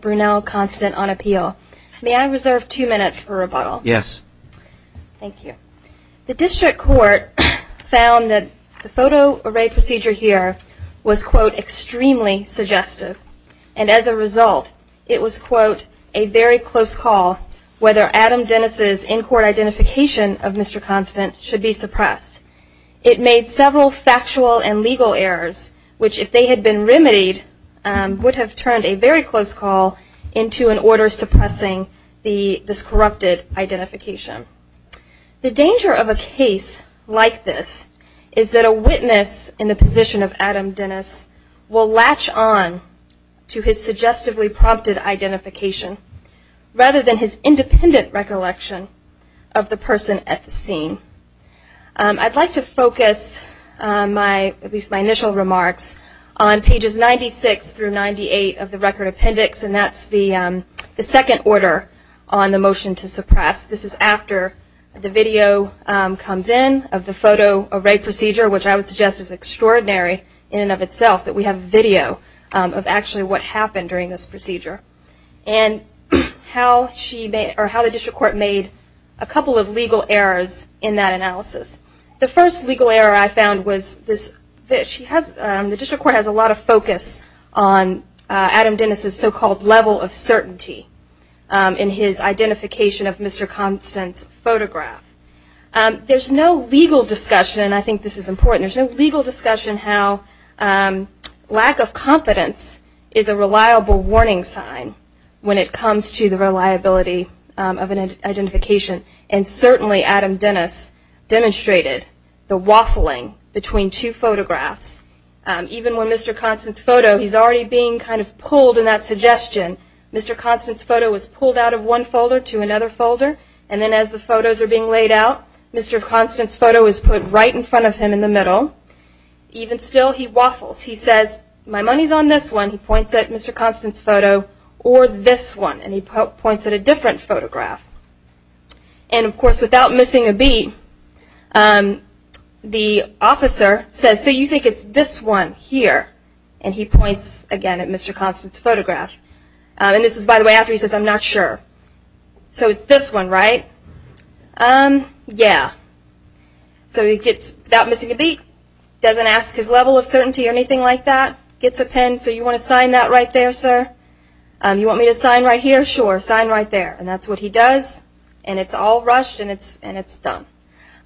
Brunel Constant on appeal. May I reserve two minutes for rebuttal? Yes. Thank you. The district court found that the photo array procedure here was quote extremely suggestive and as a result it was quote a very close call whether Adam Dennis's in-court identification of Mr. Constant should be suppressed. It made several factual and legal errors which if they had been remedied would have turned a very close call into an order suppressing this corrupted identification. The danger of a case like this is that a witness in the position of Adam Dennis will latch on to his suggestively prompted identification rather than his independent recollection of the person at the scene. I'd like to focus my at on pages 96 through 98 of the record appendix and that's the second order on the motion to suppress. This is after the video comes in of the photo array procedure which I would suggest is extraordinary in and of itself that we have video of actually what happened during this procedure and how the district court made a couple of legal errors in that analysis. The first legal error I found was this. The district court has a lot of focus on Adam Dennis's so-called level of certainty in his identification of Mr. Constant's photograph. There's no legal discussion and I think this is important there's no legal discussion how lack of confidence is a reliable warning sign when it comes to the reliability of an identification and certainly Adam Dennis demonstrated the waffling between two photographs. Even when Mr. Constant's photo he's already being kind of pulled in that suggestion. Mr. Constant's photo was pulled out of one folder to another folder and then as the photos are being laid out Mr. Constant's photo is put right in front of him in the middle. Even still he waffles. He says my money's on this one he points at Mr. Constant's photo or this one and he points at a different photograph and of course without missing a beat the officer says so you think it's this one here and he points again at Mr. Constant's photograph and this is by the way after he says I'm not sure so it's this one right um yeah so he gets that missing a beat doesn't ask his level of certainty or anything like that gets a pen so you want to sign that right there sir you want me to sign right here sure sign there and that's what he does and it's all rushed and it's and it's done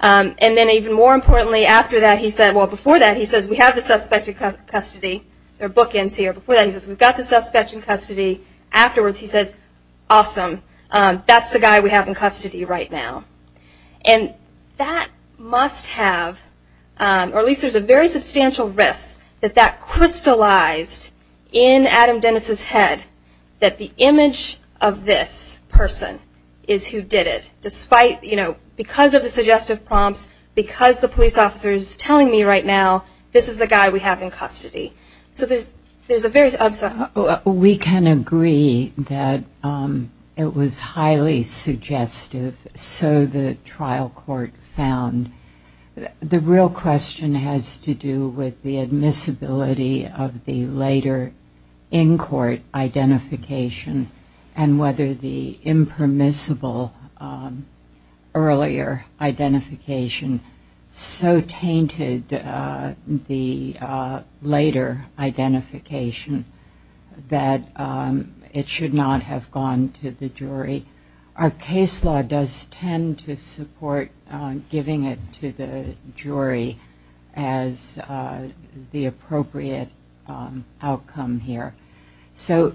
and then even more importantly after that he said well before that he says we have the suspect in custody their bookends here before that he says we've got the suspect in custody afterwards he says awesome that's the guy we have in custody right now and that must have or at least there's a very substantial risk that that crystallized in Adam Dennis's head that the image of this person is who did it despite you know because of the suggestive prompts because the police officer is telling me right now this is the guy we have in custody so there's there's a very subtle we can agree that it was highly suggestive so the trial court found the real question has to do with the admissibility of the later in court identification and whether the impermissible earlier identification so tainted the later identification that it should not have gone to the jury our case law does tend to support giving it to the jury as the appropriate outcome here so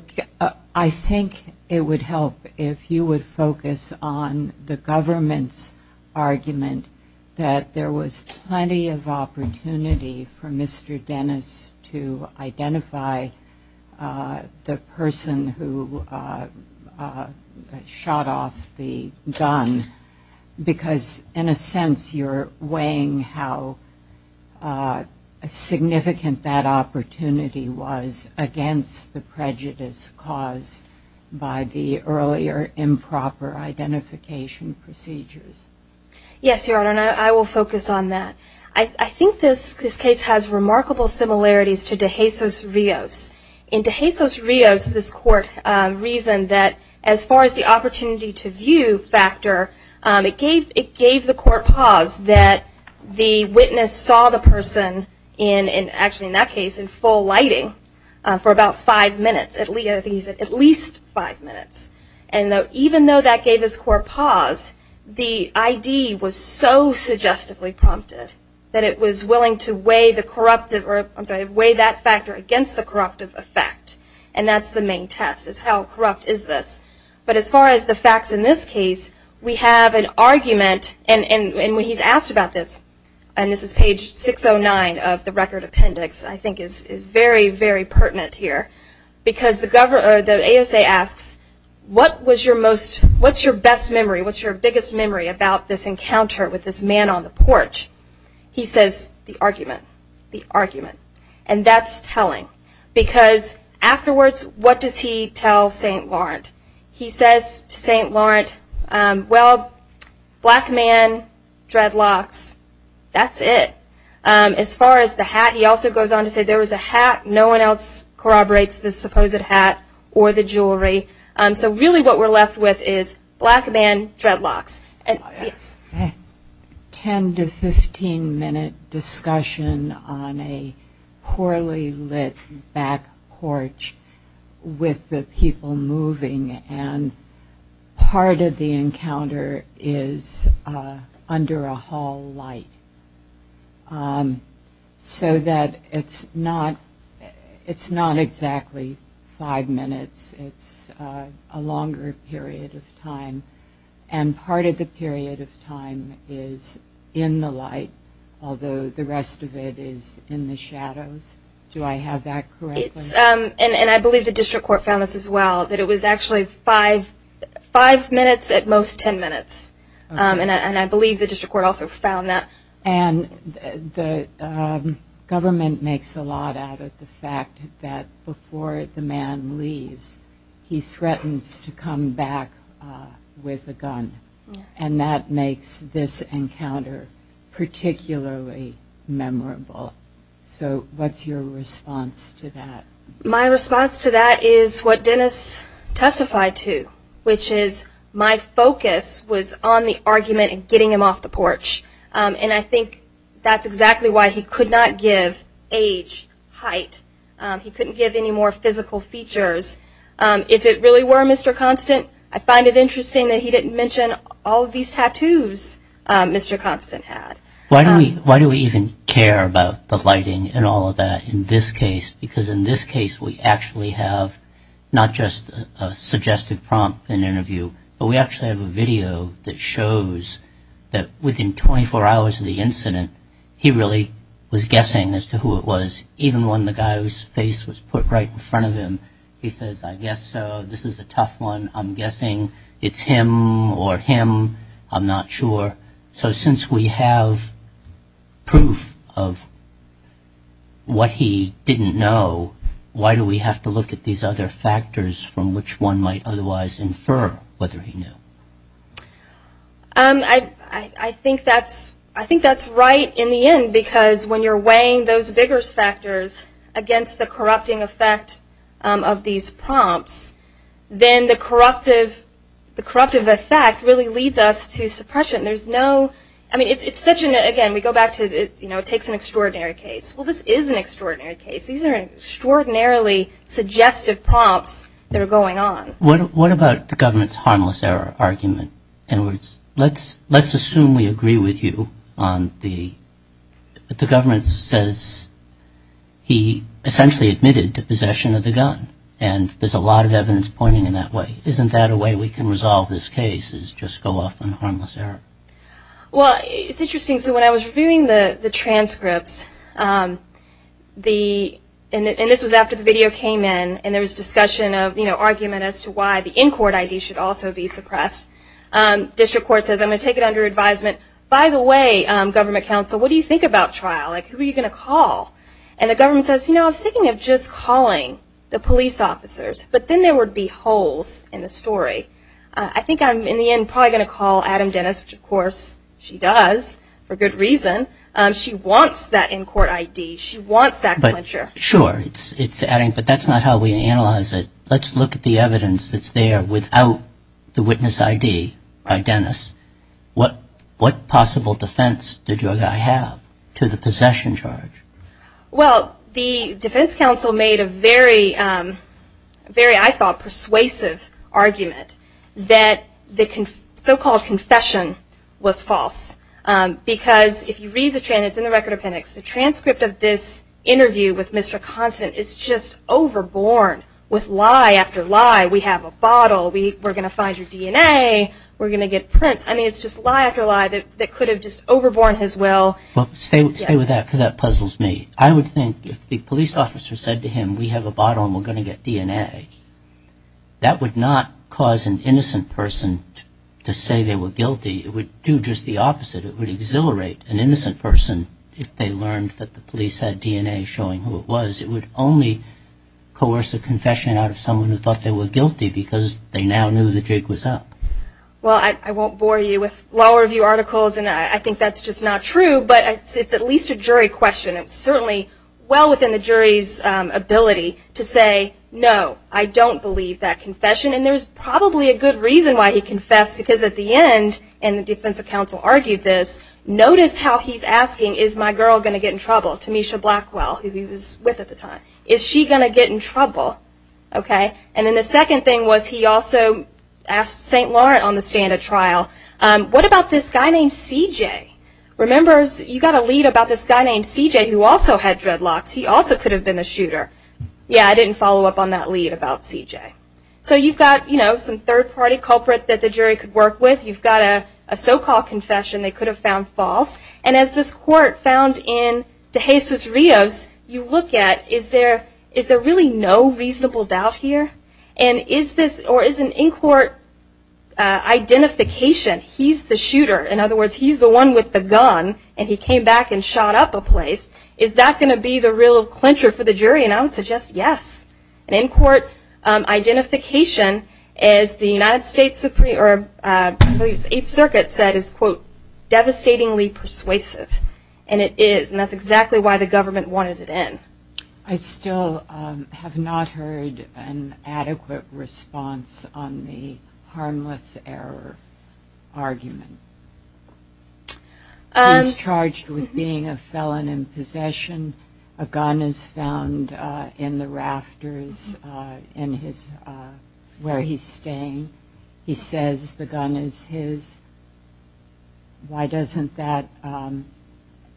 I think it would help if you would focus on the government's argument that there was plenty of opportunity for person who shot off the gun because in a sense you're weighing how significant that opportunity was against the prejudice caused by the earlier improper identification procedures yes your honor I will focus on that I think this case has remarkable similarities to DeJesus Rios. In DeJesus Rios this court reasoned that as far as the opportunity to view factor it gave it gave the court pause that the witness saw the person in and actually in that case in full lighting for about five minutes at least five minutes and though even though that gave us court pause the ID was so suggestively prompted that it was willing to weigh the corruptive or weigh that factor against the corruptive effect and that's the main test is how corrupt is this but as far as the facts in this case we have an argument and when he's asked about this and this is page 609 of the record appendix I think is very very pertinent here because the governor the ASA asks what was your most what's your best memory what's your biggest memory about this encounter with this man on the port he says the argument the argument and that's telling because afterwards what does he tell st. Lawrence he says to st. Lawrence well black man dreadlocks that's it as far as the hat he also goes on to say there was a hat no one else corroborates this supposed hat or the jewelry so really what we're left with is black man dreadlocks and 10 to 15 minute discussion on a poorly lit back porch with the people moving and part of the encounter is under a hall light so that it's not it's not exactly five minutes it's a longer period of time and part of the period of time is in the light although the rest of it is in the shadows do I have that correct and I believe the district court found this as well that it was actually five five minutes at most ten minutes and I government makes a lot out of the fact that before the man leaves he threatens to come back with a gun and that makes this encounter particularly memorable so what's your response to that my response to that is what Dennis testified to which is my focus was on the argument and getting him off the porch and I age height he couldn't give any more physical features if it really were mr. constant I find it interesting that he didn't mention all of these tattoos mr. constant had why do we why do we even care about the lighting and all of that in this case because in this case we actually have not just a suggestive prompt an interview but we actually have a video that shows that within 24 hours of the incident he really was guessing as to who it was even when the guy whose face was put right in front of him he says I guess this is a tough one I'm guessing it's him or him I'm not sure so since we have proof of what he didn't know why do we have to look at these other factors from which one might otherwise infer whether he knew I think that's I think that's right in the end because when you're weighing those bigger factors against the corrupting effect of these prompts then the corruptive the corruptive effect really leads us to suppression there's no I mean it's it's such an again we go back to the you know it takes an extraordinary case well this is an extraordinary case these are extraordinarily suggestive prompts they're going on what what about the government's harmless error argument in words let's let's assume we agree with you on the but the government says he essentially admitted to possession of the gun and there's a lot of evidence pointing in that way isn't that a way we can resolve this case is just go off on harmless error well it's interesting so when I was reviewing the the transcripts the and this was after the video came in and there was discussion of you know argument as to why the in-court ID should also be suppressed district court says I'm gonna take it under advisement by the way government counsel what do you think about trial like who are you gonna call and the government says you know I'm thinking of just calling the police officers but then there would be holes in the story I think I'm in the end probably gonna call Adam Dennis which of course she does for good reason she wants that in-court ID she wants that but sure sure it's it's adding but that's not how we analyze it let's look at the evidence that's there without the witness ID by Dennis what what possible defense did your guy have to the possession charge well the defense counsel made a very very I thought persuasive argument that the so-called confession was false because if you read the chance in the record appendix the transcript of this interview with mr. constant it's just overborn with lie after lie we have a bottle we were gonna find your DNA we're gonna get Prince I mean it's just lie after lie that that could have just overborne his will well stay with that because that puzzles me I would think if the police officer said to him we have a bottle and we're gonna get DNA that would not cause an innocent person to say they were guilty it would do just the opposite it would exhilarate an innocent person if they learned that the police had DNA showing who it was it would only coerce a confession out of someone who thought they were guilty because they now knew the Jake was up well I won't bore you with law review articles and I think that's just not true but it's at least a jury question it's certainly well within the jury's ability to say no I don't believe that confession and there's probably a good reason why he confessed because at the end and the defense of counsel argued this notice how he's asking is my girl gonna get in trouble to Misha Blackwell who he was with at the time is she gonna get in trouble okay and then the second thing was he also asked st. Laurent on the stand at trial what about this guy named CJ remembers you got a lead about this guy named CJ who also had dreadlocks he also could have been a shooter yeah I didn't follow up on that lead about CJ so you've got you know some third-party culprit that the jury could work with you've got a so-called confession they could have found false and as this court found in de Jesus Rios you look at is there is there really no reasonable doubt here and is this or is an in-court identification he's the shooter in other words he's the one with the gun and he came back and shot up a place is that gonna be the real clincher for the jury and I would suggest yes an in-court identification as the United States Supreme or a circuit said is quote devastatingly persuasive and it is and that's exactly why the government wanted it in I still have not heard an adequate response on the harmless error argument and charged with being a felon in possession a gun is found in the rafters in his where he's staying he says the gun is his why doesn't that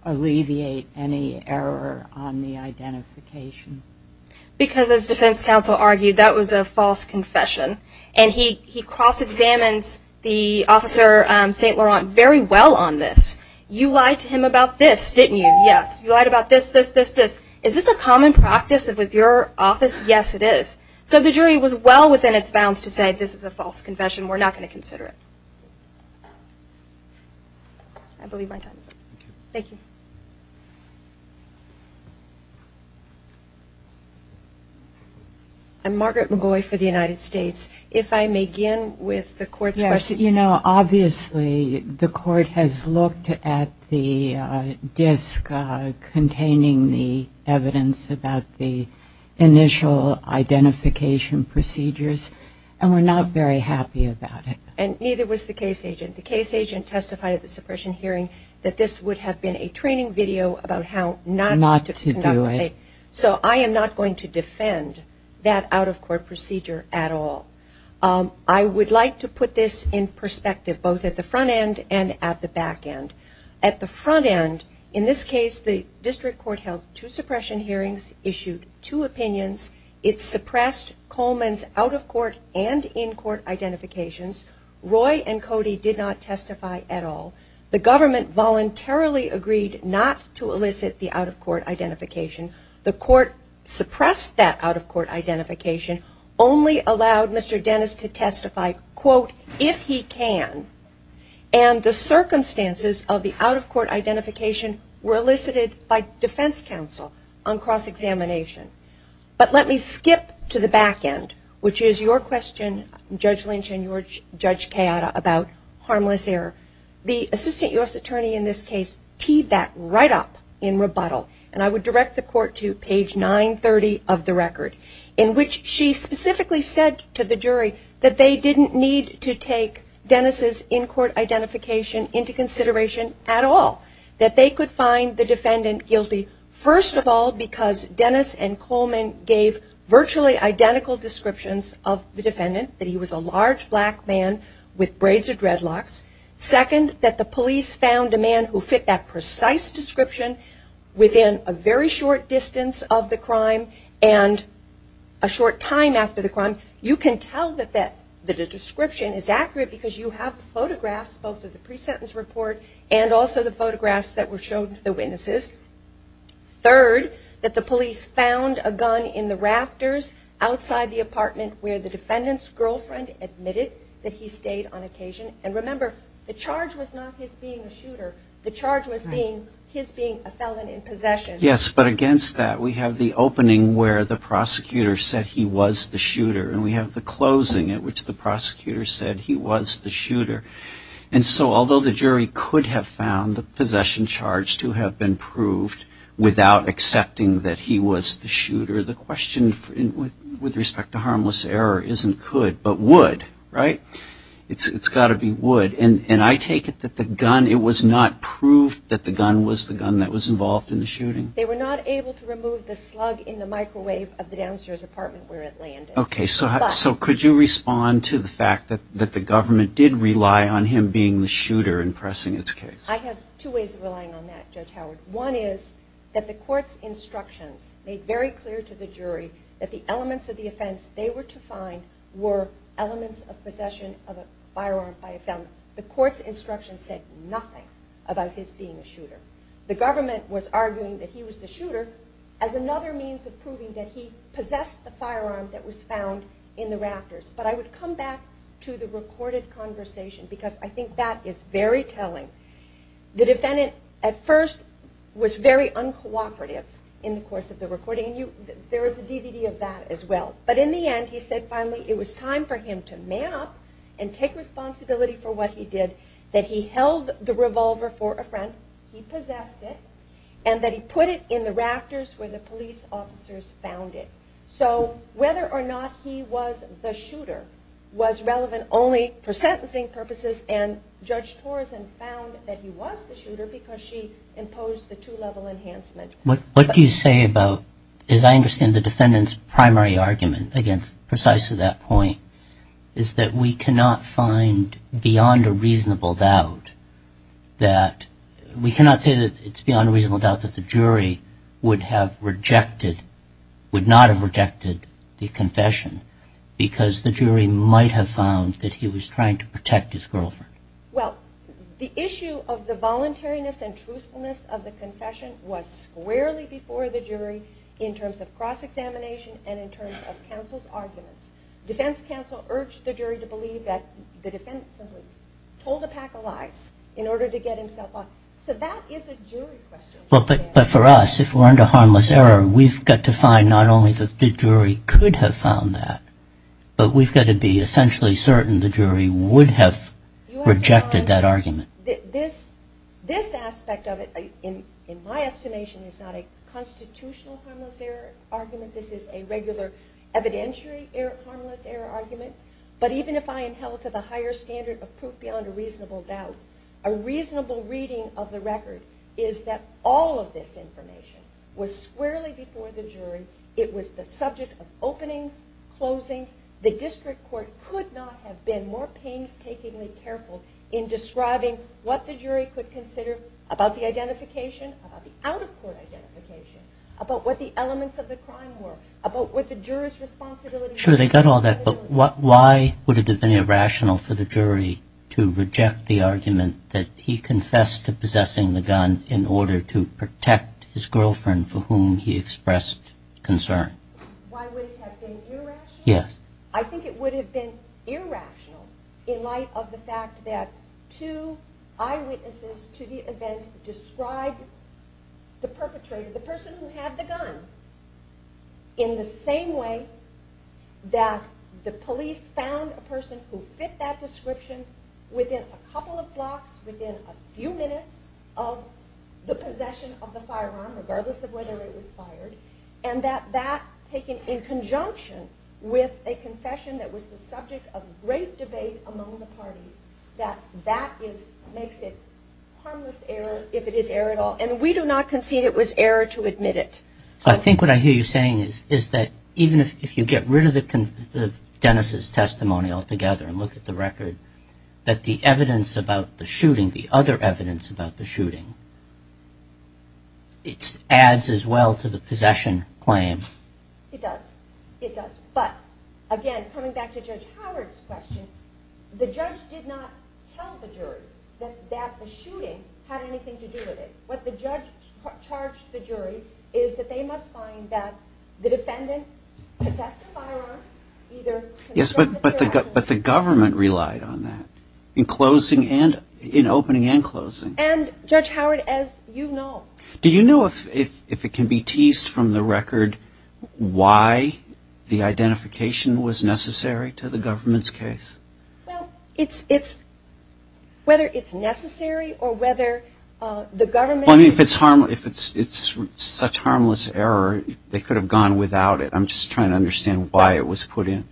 alleviate any error on the identification because as defense counsel argued that was a false confession and he he cross-examines the officer St. Laurent very well on this you lied to him about this didn't you yes you lied about this this this this is this a common practice of with your office yes it is so the jury was well within its bounds to say this is a false confession we're not going to consider it I believe my time is up. I'm Margaret McGoy for the United States if I may begin with the court's question you know obviously the court has looked at the disk containing the evidence about the initial identification procedures and we're not very happy about it and neither was the case agent the case agent testified at the suppression hearing that this would have been a training video about how not to do it so I am not going to defend that out-of-court procedure at all I would like to put this in perspective both at the front end and at the back end at the front end in this case the district court held two suppression hearings issued two opinions it's suppressed Coleman's out-of-court and in-court identifications Roy and Cody did not testify at all the government voluntarily agreed not to elicit the out-of-court identification the court suppressed that out-of-court identification only allowed Mr. Dennis to testify quote if he can and the defense counsel on cross-examination but let me skip to the back end which is your question judge Lynch and your judge Kayada about harmless error the assistant US attorney in this case teed that right up in rebuttal and I would direct the court to page 930 of the record in which she specifically said to the jury that they didn't need to take Dennis's in-court identification into first of all because Dennis and Coleman gave virtually identical descriptions of the defendant that he was a large black man with braids or dreadlocks second that the police found a man who fit that precise description within a very short distance of the crime and a short time after the crime you can tell that that the description is accurate because you have photographs both of the third that the police found a gun in the rafters outside the apartment where the defendant's girlfriend admitted that he stayed on occasion and remember the charge was not his being a shooter the charge was being his being a felon in possession yes but against that we have the opening where the prosecutor said he was the shooter and we have the closing at which the prosecutor said he was the shooter and so although the jury could have found the possession charged to have been proved without accepting that he was the shooter the question with respect to harmless error isn't could but would right it's it's got to be would and and I take it that the gun it was not proved that the gun was the gun that was involved in the shooting they were not able to remove the slug in the microwave of the downstairs apartment where it landed okay so how so could you respond to the fact that that the government did rely on him being the coward one is that the court's instructions made very clear to the jury that the elements of the offense they were to find were elements of possession of a firearm by a felon the court's instructions said nothing about his being a shooter the government was arguing that he was the shooter as another means of proving that he possessed the firearm that was found in the rafters but I would come back to the recorded conversation because I think that is very was very uncooperative in the course of the recording you there is a DVD of that as well but in the end he said finally it was time for him to man up and take responsibility for what he did that he held the revolver for a friend he possessed it and that he put it in the rafters where the police officers found it so whether or not he was the shooter was relevant only for sentencing purposes and judge Torres and found that he was the shooter because she imposed the two-level enhancement what what do you say about is I understand the defendants primary argument against precisely that point is that we cannot find beyond a reasonable doubt that we cannot say that it's beyond a reasonable doubt that the jury would have rejected would not have rejected the confession because the jury might have found that he was trying to protect his girlfriend well the issue of the voluntariness and truthfulness of the confession was squarely before the jury in terms of cross-examination and in terms of counsel's arguments defense counsel urged the jury to believe that the defendant simply told a pack of lies in order to get himself up so that is a jury question well but but for us if we're under harmless error we've got to not only that the jury could have found that but we've got to be essentially certain the jury would have rejected that argument this this aspect of it in in my estimation is not a constitutional harmless error argument this is a regular evidentiary harmless error argument but even if I am held to the higher standard of proof beyond a reasonable doubt a reasonable reading of the record is that all of this information was squarely before the jury it was the subject of openings closings the district court could not have been more painstakingly careful in describing what the jury could consider about the identification about what the elements of the crime were about what the jurors responsibility sure they got all that but what why would it have been possessing the gun in order to protect his girlfriend for whom he expressed concern yes I think it would have been irrational in light of the fact that to eyewitnesses to the event described the perpetrator the person who had the gun in the same way that the police found a person who fit that description within a of the possession of the firearm regardless of whether it was fired and that that taken in conjunction with a confession that was the subject of great debate among the parties that that is makes it harmless error if it is air at all and we do not concede it was error to admit it I think what I hear you saying is is that even if you get rid of the Dennis's testimony altogether and look at the record that the evidence about the shooting the other evidence about the shooting it adds as well to the possession claims it does it does but again coming back to judge Howard's question the judge did not tell the jury that that the shooting had anything to do with it what the judge charged the jury is that they must find that the defendant yes but but they got but the government relied on that in closing and in opening and closing and judge Howard as you know do you know if if if it can be teased from the record why the identification was necessary to the government's case it's it's whether it's necessary or whether the government if it's harm if it's it's such harmless error they could have gone without it I'm just trying to understand why it was put in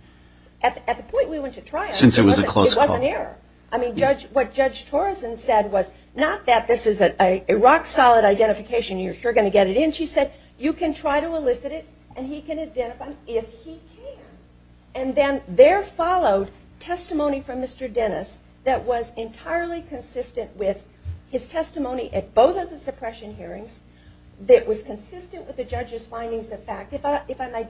at the point we want to try since it was a close call here I mean judge what judge Torres and said was not that this is that a rock-solid identification you're gonna get it in she said you can try to elicit it and he can identify if he can and then there followed testimony from mr. Dennis that was entirely consistent with his testimony at both of the suppression hearings that was consistent with the judge's findings of fact if I if I might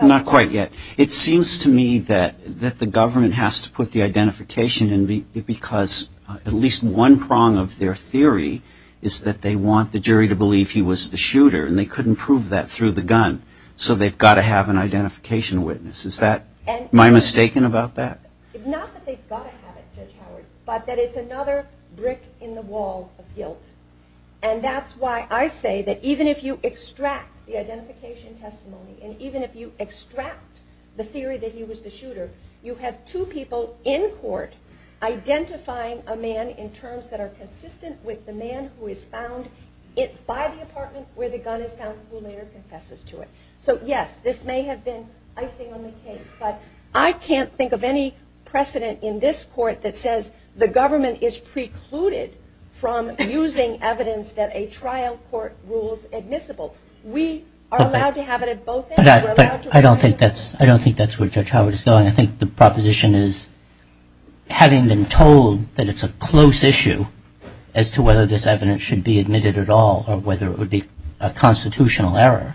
not quite yet it seems to me that that the government has to put the identification and because at least one prong of their theory is that they want the jury to believe he was the shooter and they couldn't prove that through the gun so they've got to have an identification witness is that and my mistaken about that but that it's another brick in the wall of guilt and even if you extract the theory that he was the shooter you have two people in court identifying a man in terms that are consistent with the man who is found it by the apartment where the gun is found who later confesses to it so yes this may have been icing on the cake but I can't think of any precedent in this court that says the government is precluded from using evidence that a I don't think that's I don't think that's where judge Howard is going I think the proposition is having been told that it's a close issue as to whether this evidence should be admitted at all or whether it would be a constitutional error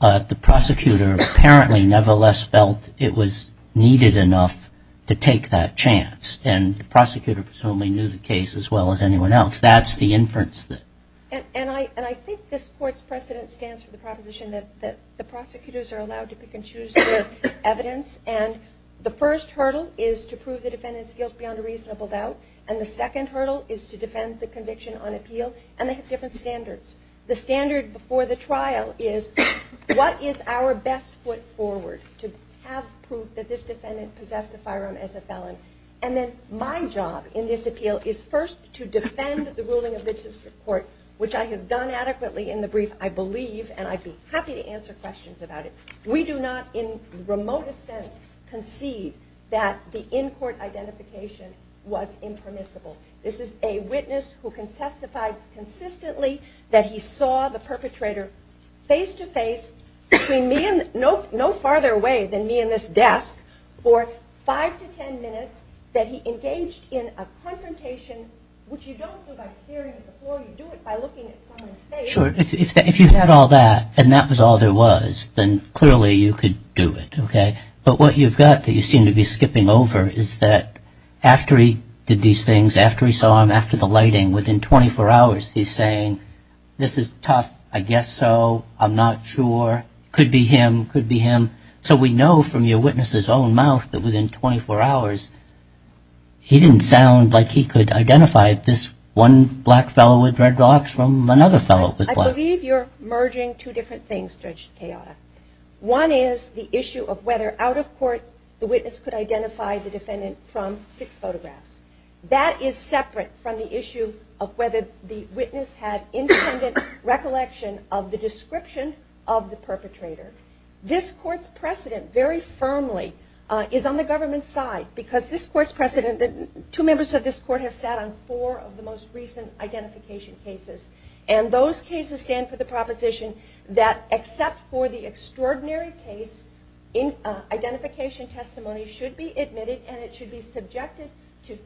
the prosecutor apparently nevertheless felt it was needed enough to take that chance and the prosecutor presumably knew the case as well as anyone else that's the inference that and I and I think this court's precedent stands for the proposition that the prosecutors are allowed to pick and choose evidence and the first hurdle is to prove the defendant's guilt beyond a reasonable doubt and the second hurdle is to defend the conviction on appeal and they have different standards the standard before the trial is what is our best foot forward to have proof that this defendant possessed a firearm as a felon and then my job in this appeal is first to defend the ruling of the district court which I have done adequately in the brief I believe and I'd be happy to answer questions about it we do not in remotest sense concede that the in-court identification was impermissible this is a witness who can testify consistently that he saw the perpetrator face to face between me and no no farther away than me in this desk for five to ten minutes that he engaged in a confrontation which you don't do by staring at the floor you do it by looking at someone's face if you had all that and that was all there was then clearly you could do it okay but what you've got that you seem to be skipping over is that after he did these things after he saw him after the lighting within 24 hours he's saying this is tough I guess so I'm not sure could be him could be him so we know from your witnesses own mouth that within 24 hours he didn't sound like he could identify this one black fellow with red locks from another fellow with black. I believe you're merging two different things Judge Tejada. One is the issue of whether out of court the witness could identify the defendant from six photographs that is separate from the issue of whether the witness had independent recollection of the description of the perpetrator. This court's precedent very firmly is on the government side because this court's precedent that two members of this court have sat on four of the most recent identification cases and those cases stand for the proposition that except for the extraordinary case in identification testimony should be admitted and it should be subjected to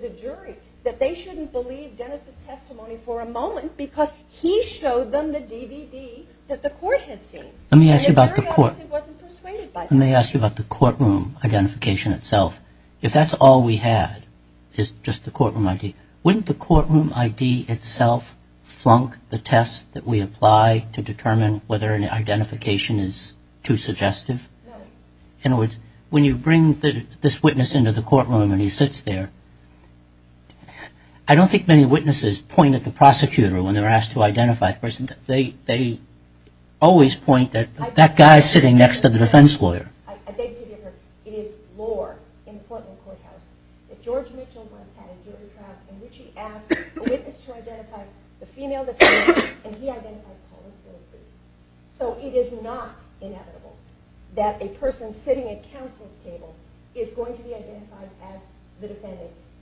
the jury that they shouldn't believe Dennis's testimony for a moment because he showed them the DVD that the court has seen. Let me ask you about the court let me ask you about the courtroom identification itself if that's all we had is just the courtroom ID wouldn't the courtroom ID itself flunk the test that we apply to determine whether an identification is too suggestive in you bring this witness into the courtroom and he sits there I don't think many witnesses point at the prosecutor when they're asked to identify the person they always point that that guy's sitting next to the defense lawyer.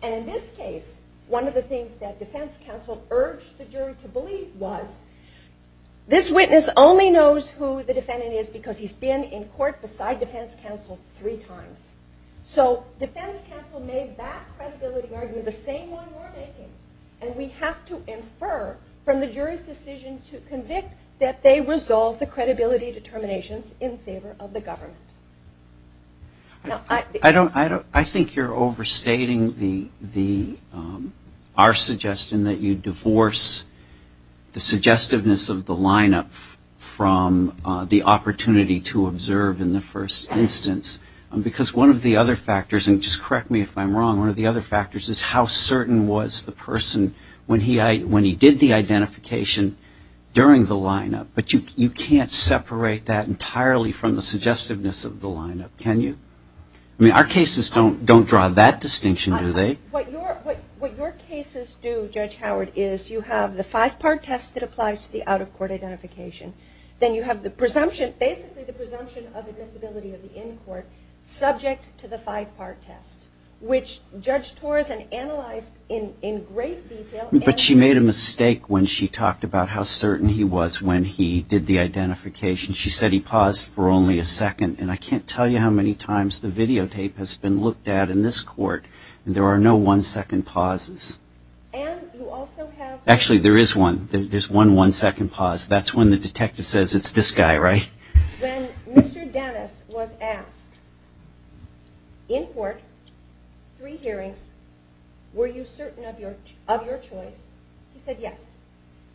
In this case one of the things that defense counsel urged the jury to believe was this witness only knows who the defendant is because he's been in court beside defense counsel three times so defense counsel made that credibility argument the same one we're making and we have to infer from the jury's decision to convict that they resolve the credibility determinations in favor of the government. I think you're overstating our suggestion that you divorce the suggestiveness of the lineup from the opportunity to observe in the first instance because one of the other factors and just correct me if I'm wrong one of the other factors is how certain was the person when he did the identification during the lineup but you can't separate that entirely from the suggestiveness of the lineup can you? I mean our cases don't draw that distinction do they? What your cases do Judge Howard is you have the five-part test that applies to the out-of-court identification then you have the presumption basically the presumption of admissibility of the in-court subject to the five-part test which Judge Torres analyzed in great detail. But she made a mistake when she talked about how certain he was when he did the identification she said he paused for only a second and I can't tell you how many times I've heard that. I can't tell you how many times the videotape has been looked at in this court and there are no one-second pauses. Actually there is one there's one one-second pause that's when the detective says it's this guy right? When Mr. Dennis was asked in court three hearings were you certain of your choice he said yes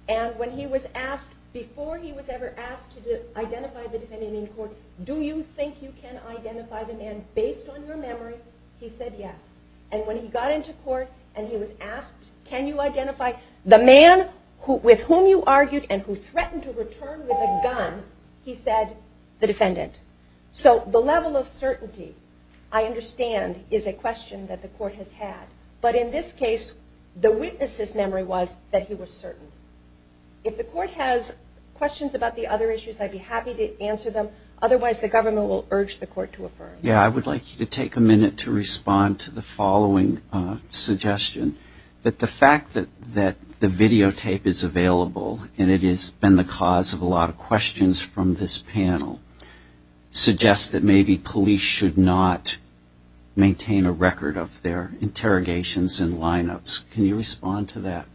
and when he was asked before he was ever asked to identify the defendant in court do you think you can identify the defendant in court? Do you think you can identify the man based on your memory he said yes and when he got into court and he was asked can you identify the man with whom you argued and who threatened to return with a gun he said the defendant. So the level of certainty I understand is a question that the court has had but in this case the witness's memory was that he was certain. If the court has questions about the other issues I'd be happy to answer them otherwise the government will urge the court to affirm. Yeah I would like you to take a minute to respond to the following suggestion that the fact that the videotape is available and it has been the cause of a lot of questions from this panel suggests that maybe police should not maintain a record of their interrogations and lineups. Can you respond to that?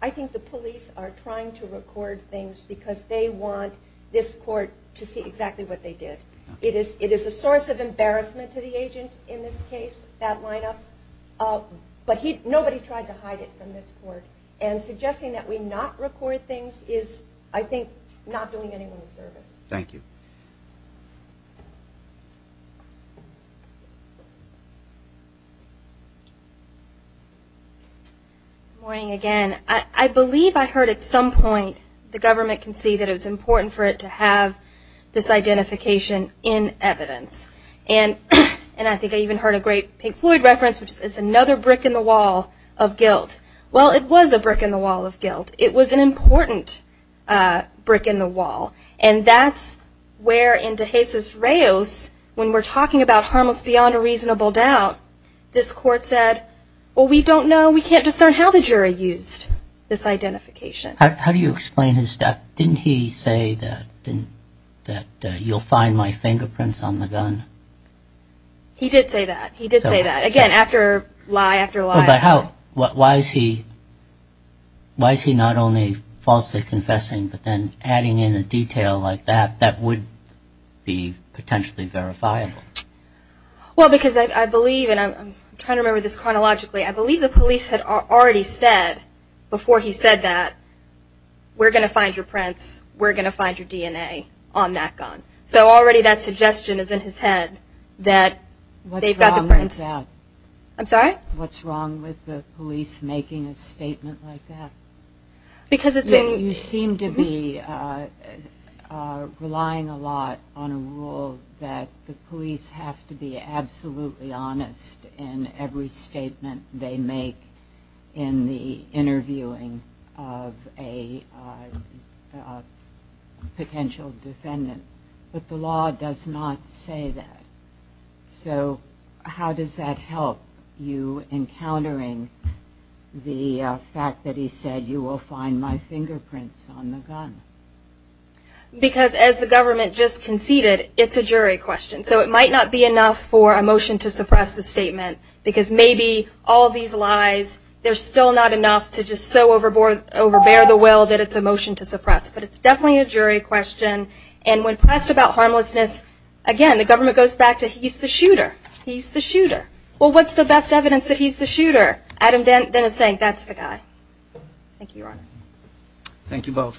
I think the police are trying to record things because they want this court to see exactly what they did. It is a source of embarrassment to the agent in this case that lineup but nobody tried to hide it from this court and suggesting that we not record things is I think not doing anyone a service. Good morning again. I believe I heard at some point the government concede that it was important for it to have this identification in evidence and I think I even heard a great Pink Floyd reference which is another brick in the wall of guilt. Well it was a brick in the wall of guilt. It was an important brick in the wall and that's where in De Jesus Reos when we're talking about harmless beyond a reasonable doubt this court said well we don't know, we can't trust anyone. I think it's important to understand how the jury used this identification. How do you explain his step? Didn't he say that you'll find my fingerprints on the gun? He did say that. He did say that. Again, lie after lie after lie. Why is he not only falsely confessing but then adding in a detail like that that would be potentially verifiable? Well because I believe and I'm trying to remember this chronologically, I believe the police had already said before he said that we're going to find your prints, we're going to find your DNA on that gun. So already that suggestion is in his head that they've got the prints. What's wrong with that? I'm sorry? I'm just trying to remember that the police have to be absolutely honest in every statement they make in the interviewing of a potential defendant. But the law does not say that. So how does that help you in countering the fact that he said you will find my fingerprints on the gun? Because as the government just conceded, it's a jury question. So it might not be enough for a motion to suppress the statement because maybe all these lies, they're still not enough to just so overbear the will that it's a motion to suppress. But it's definitely a jury question and when pressed about harmlessness, again, the government goes back to he's the shooter. He's the shooter. Well what's the best evidence that he's the shooter? Adam Dennis saying that's the guy. Thank you, your honor.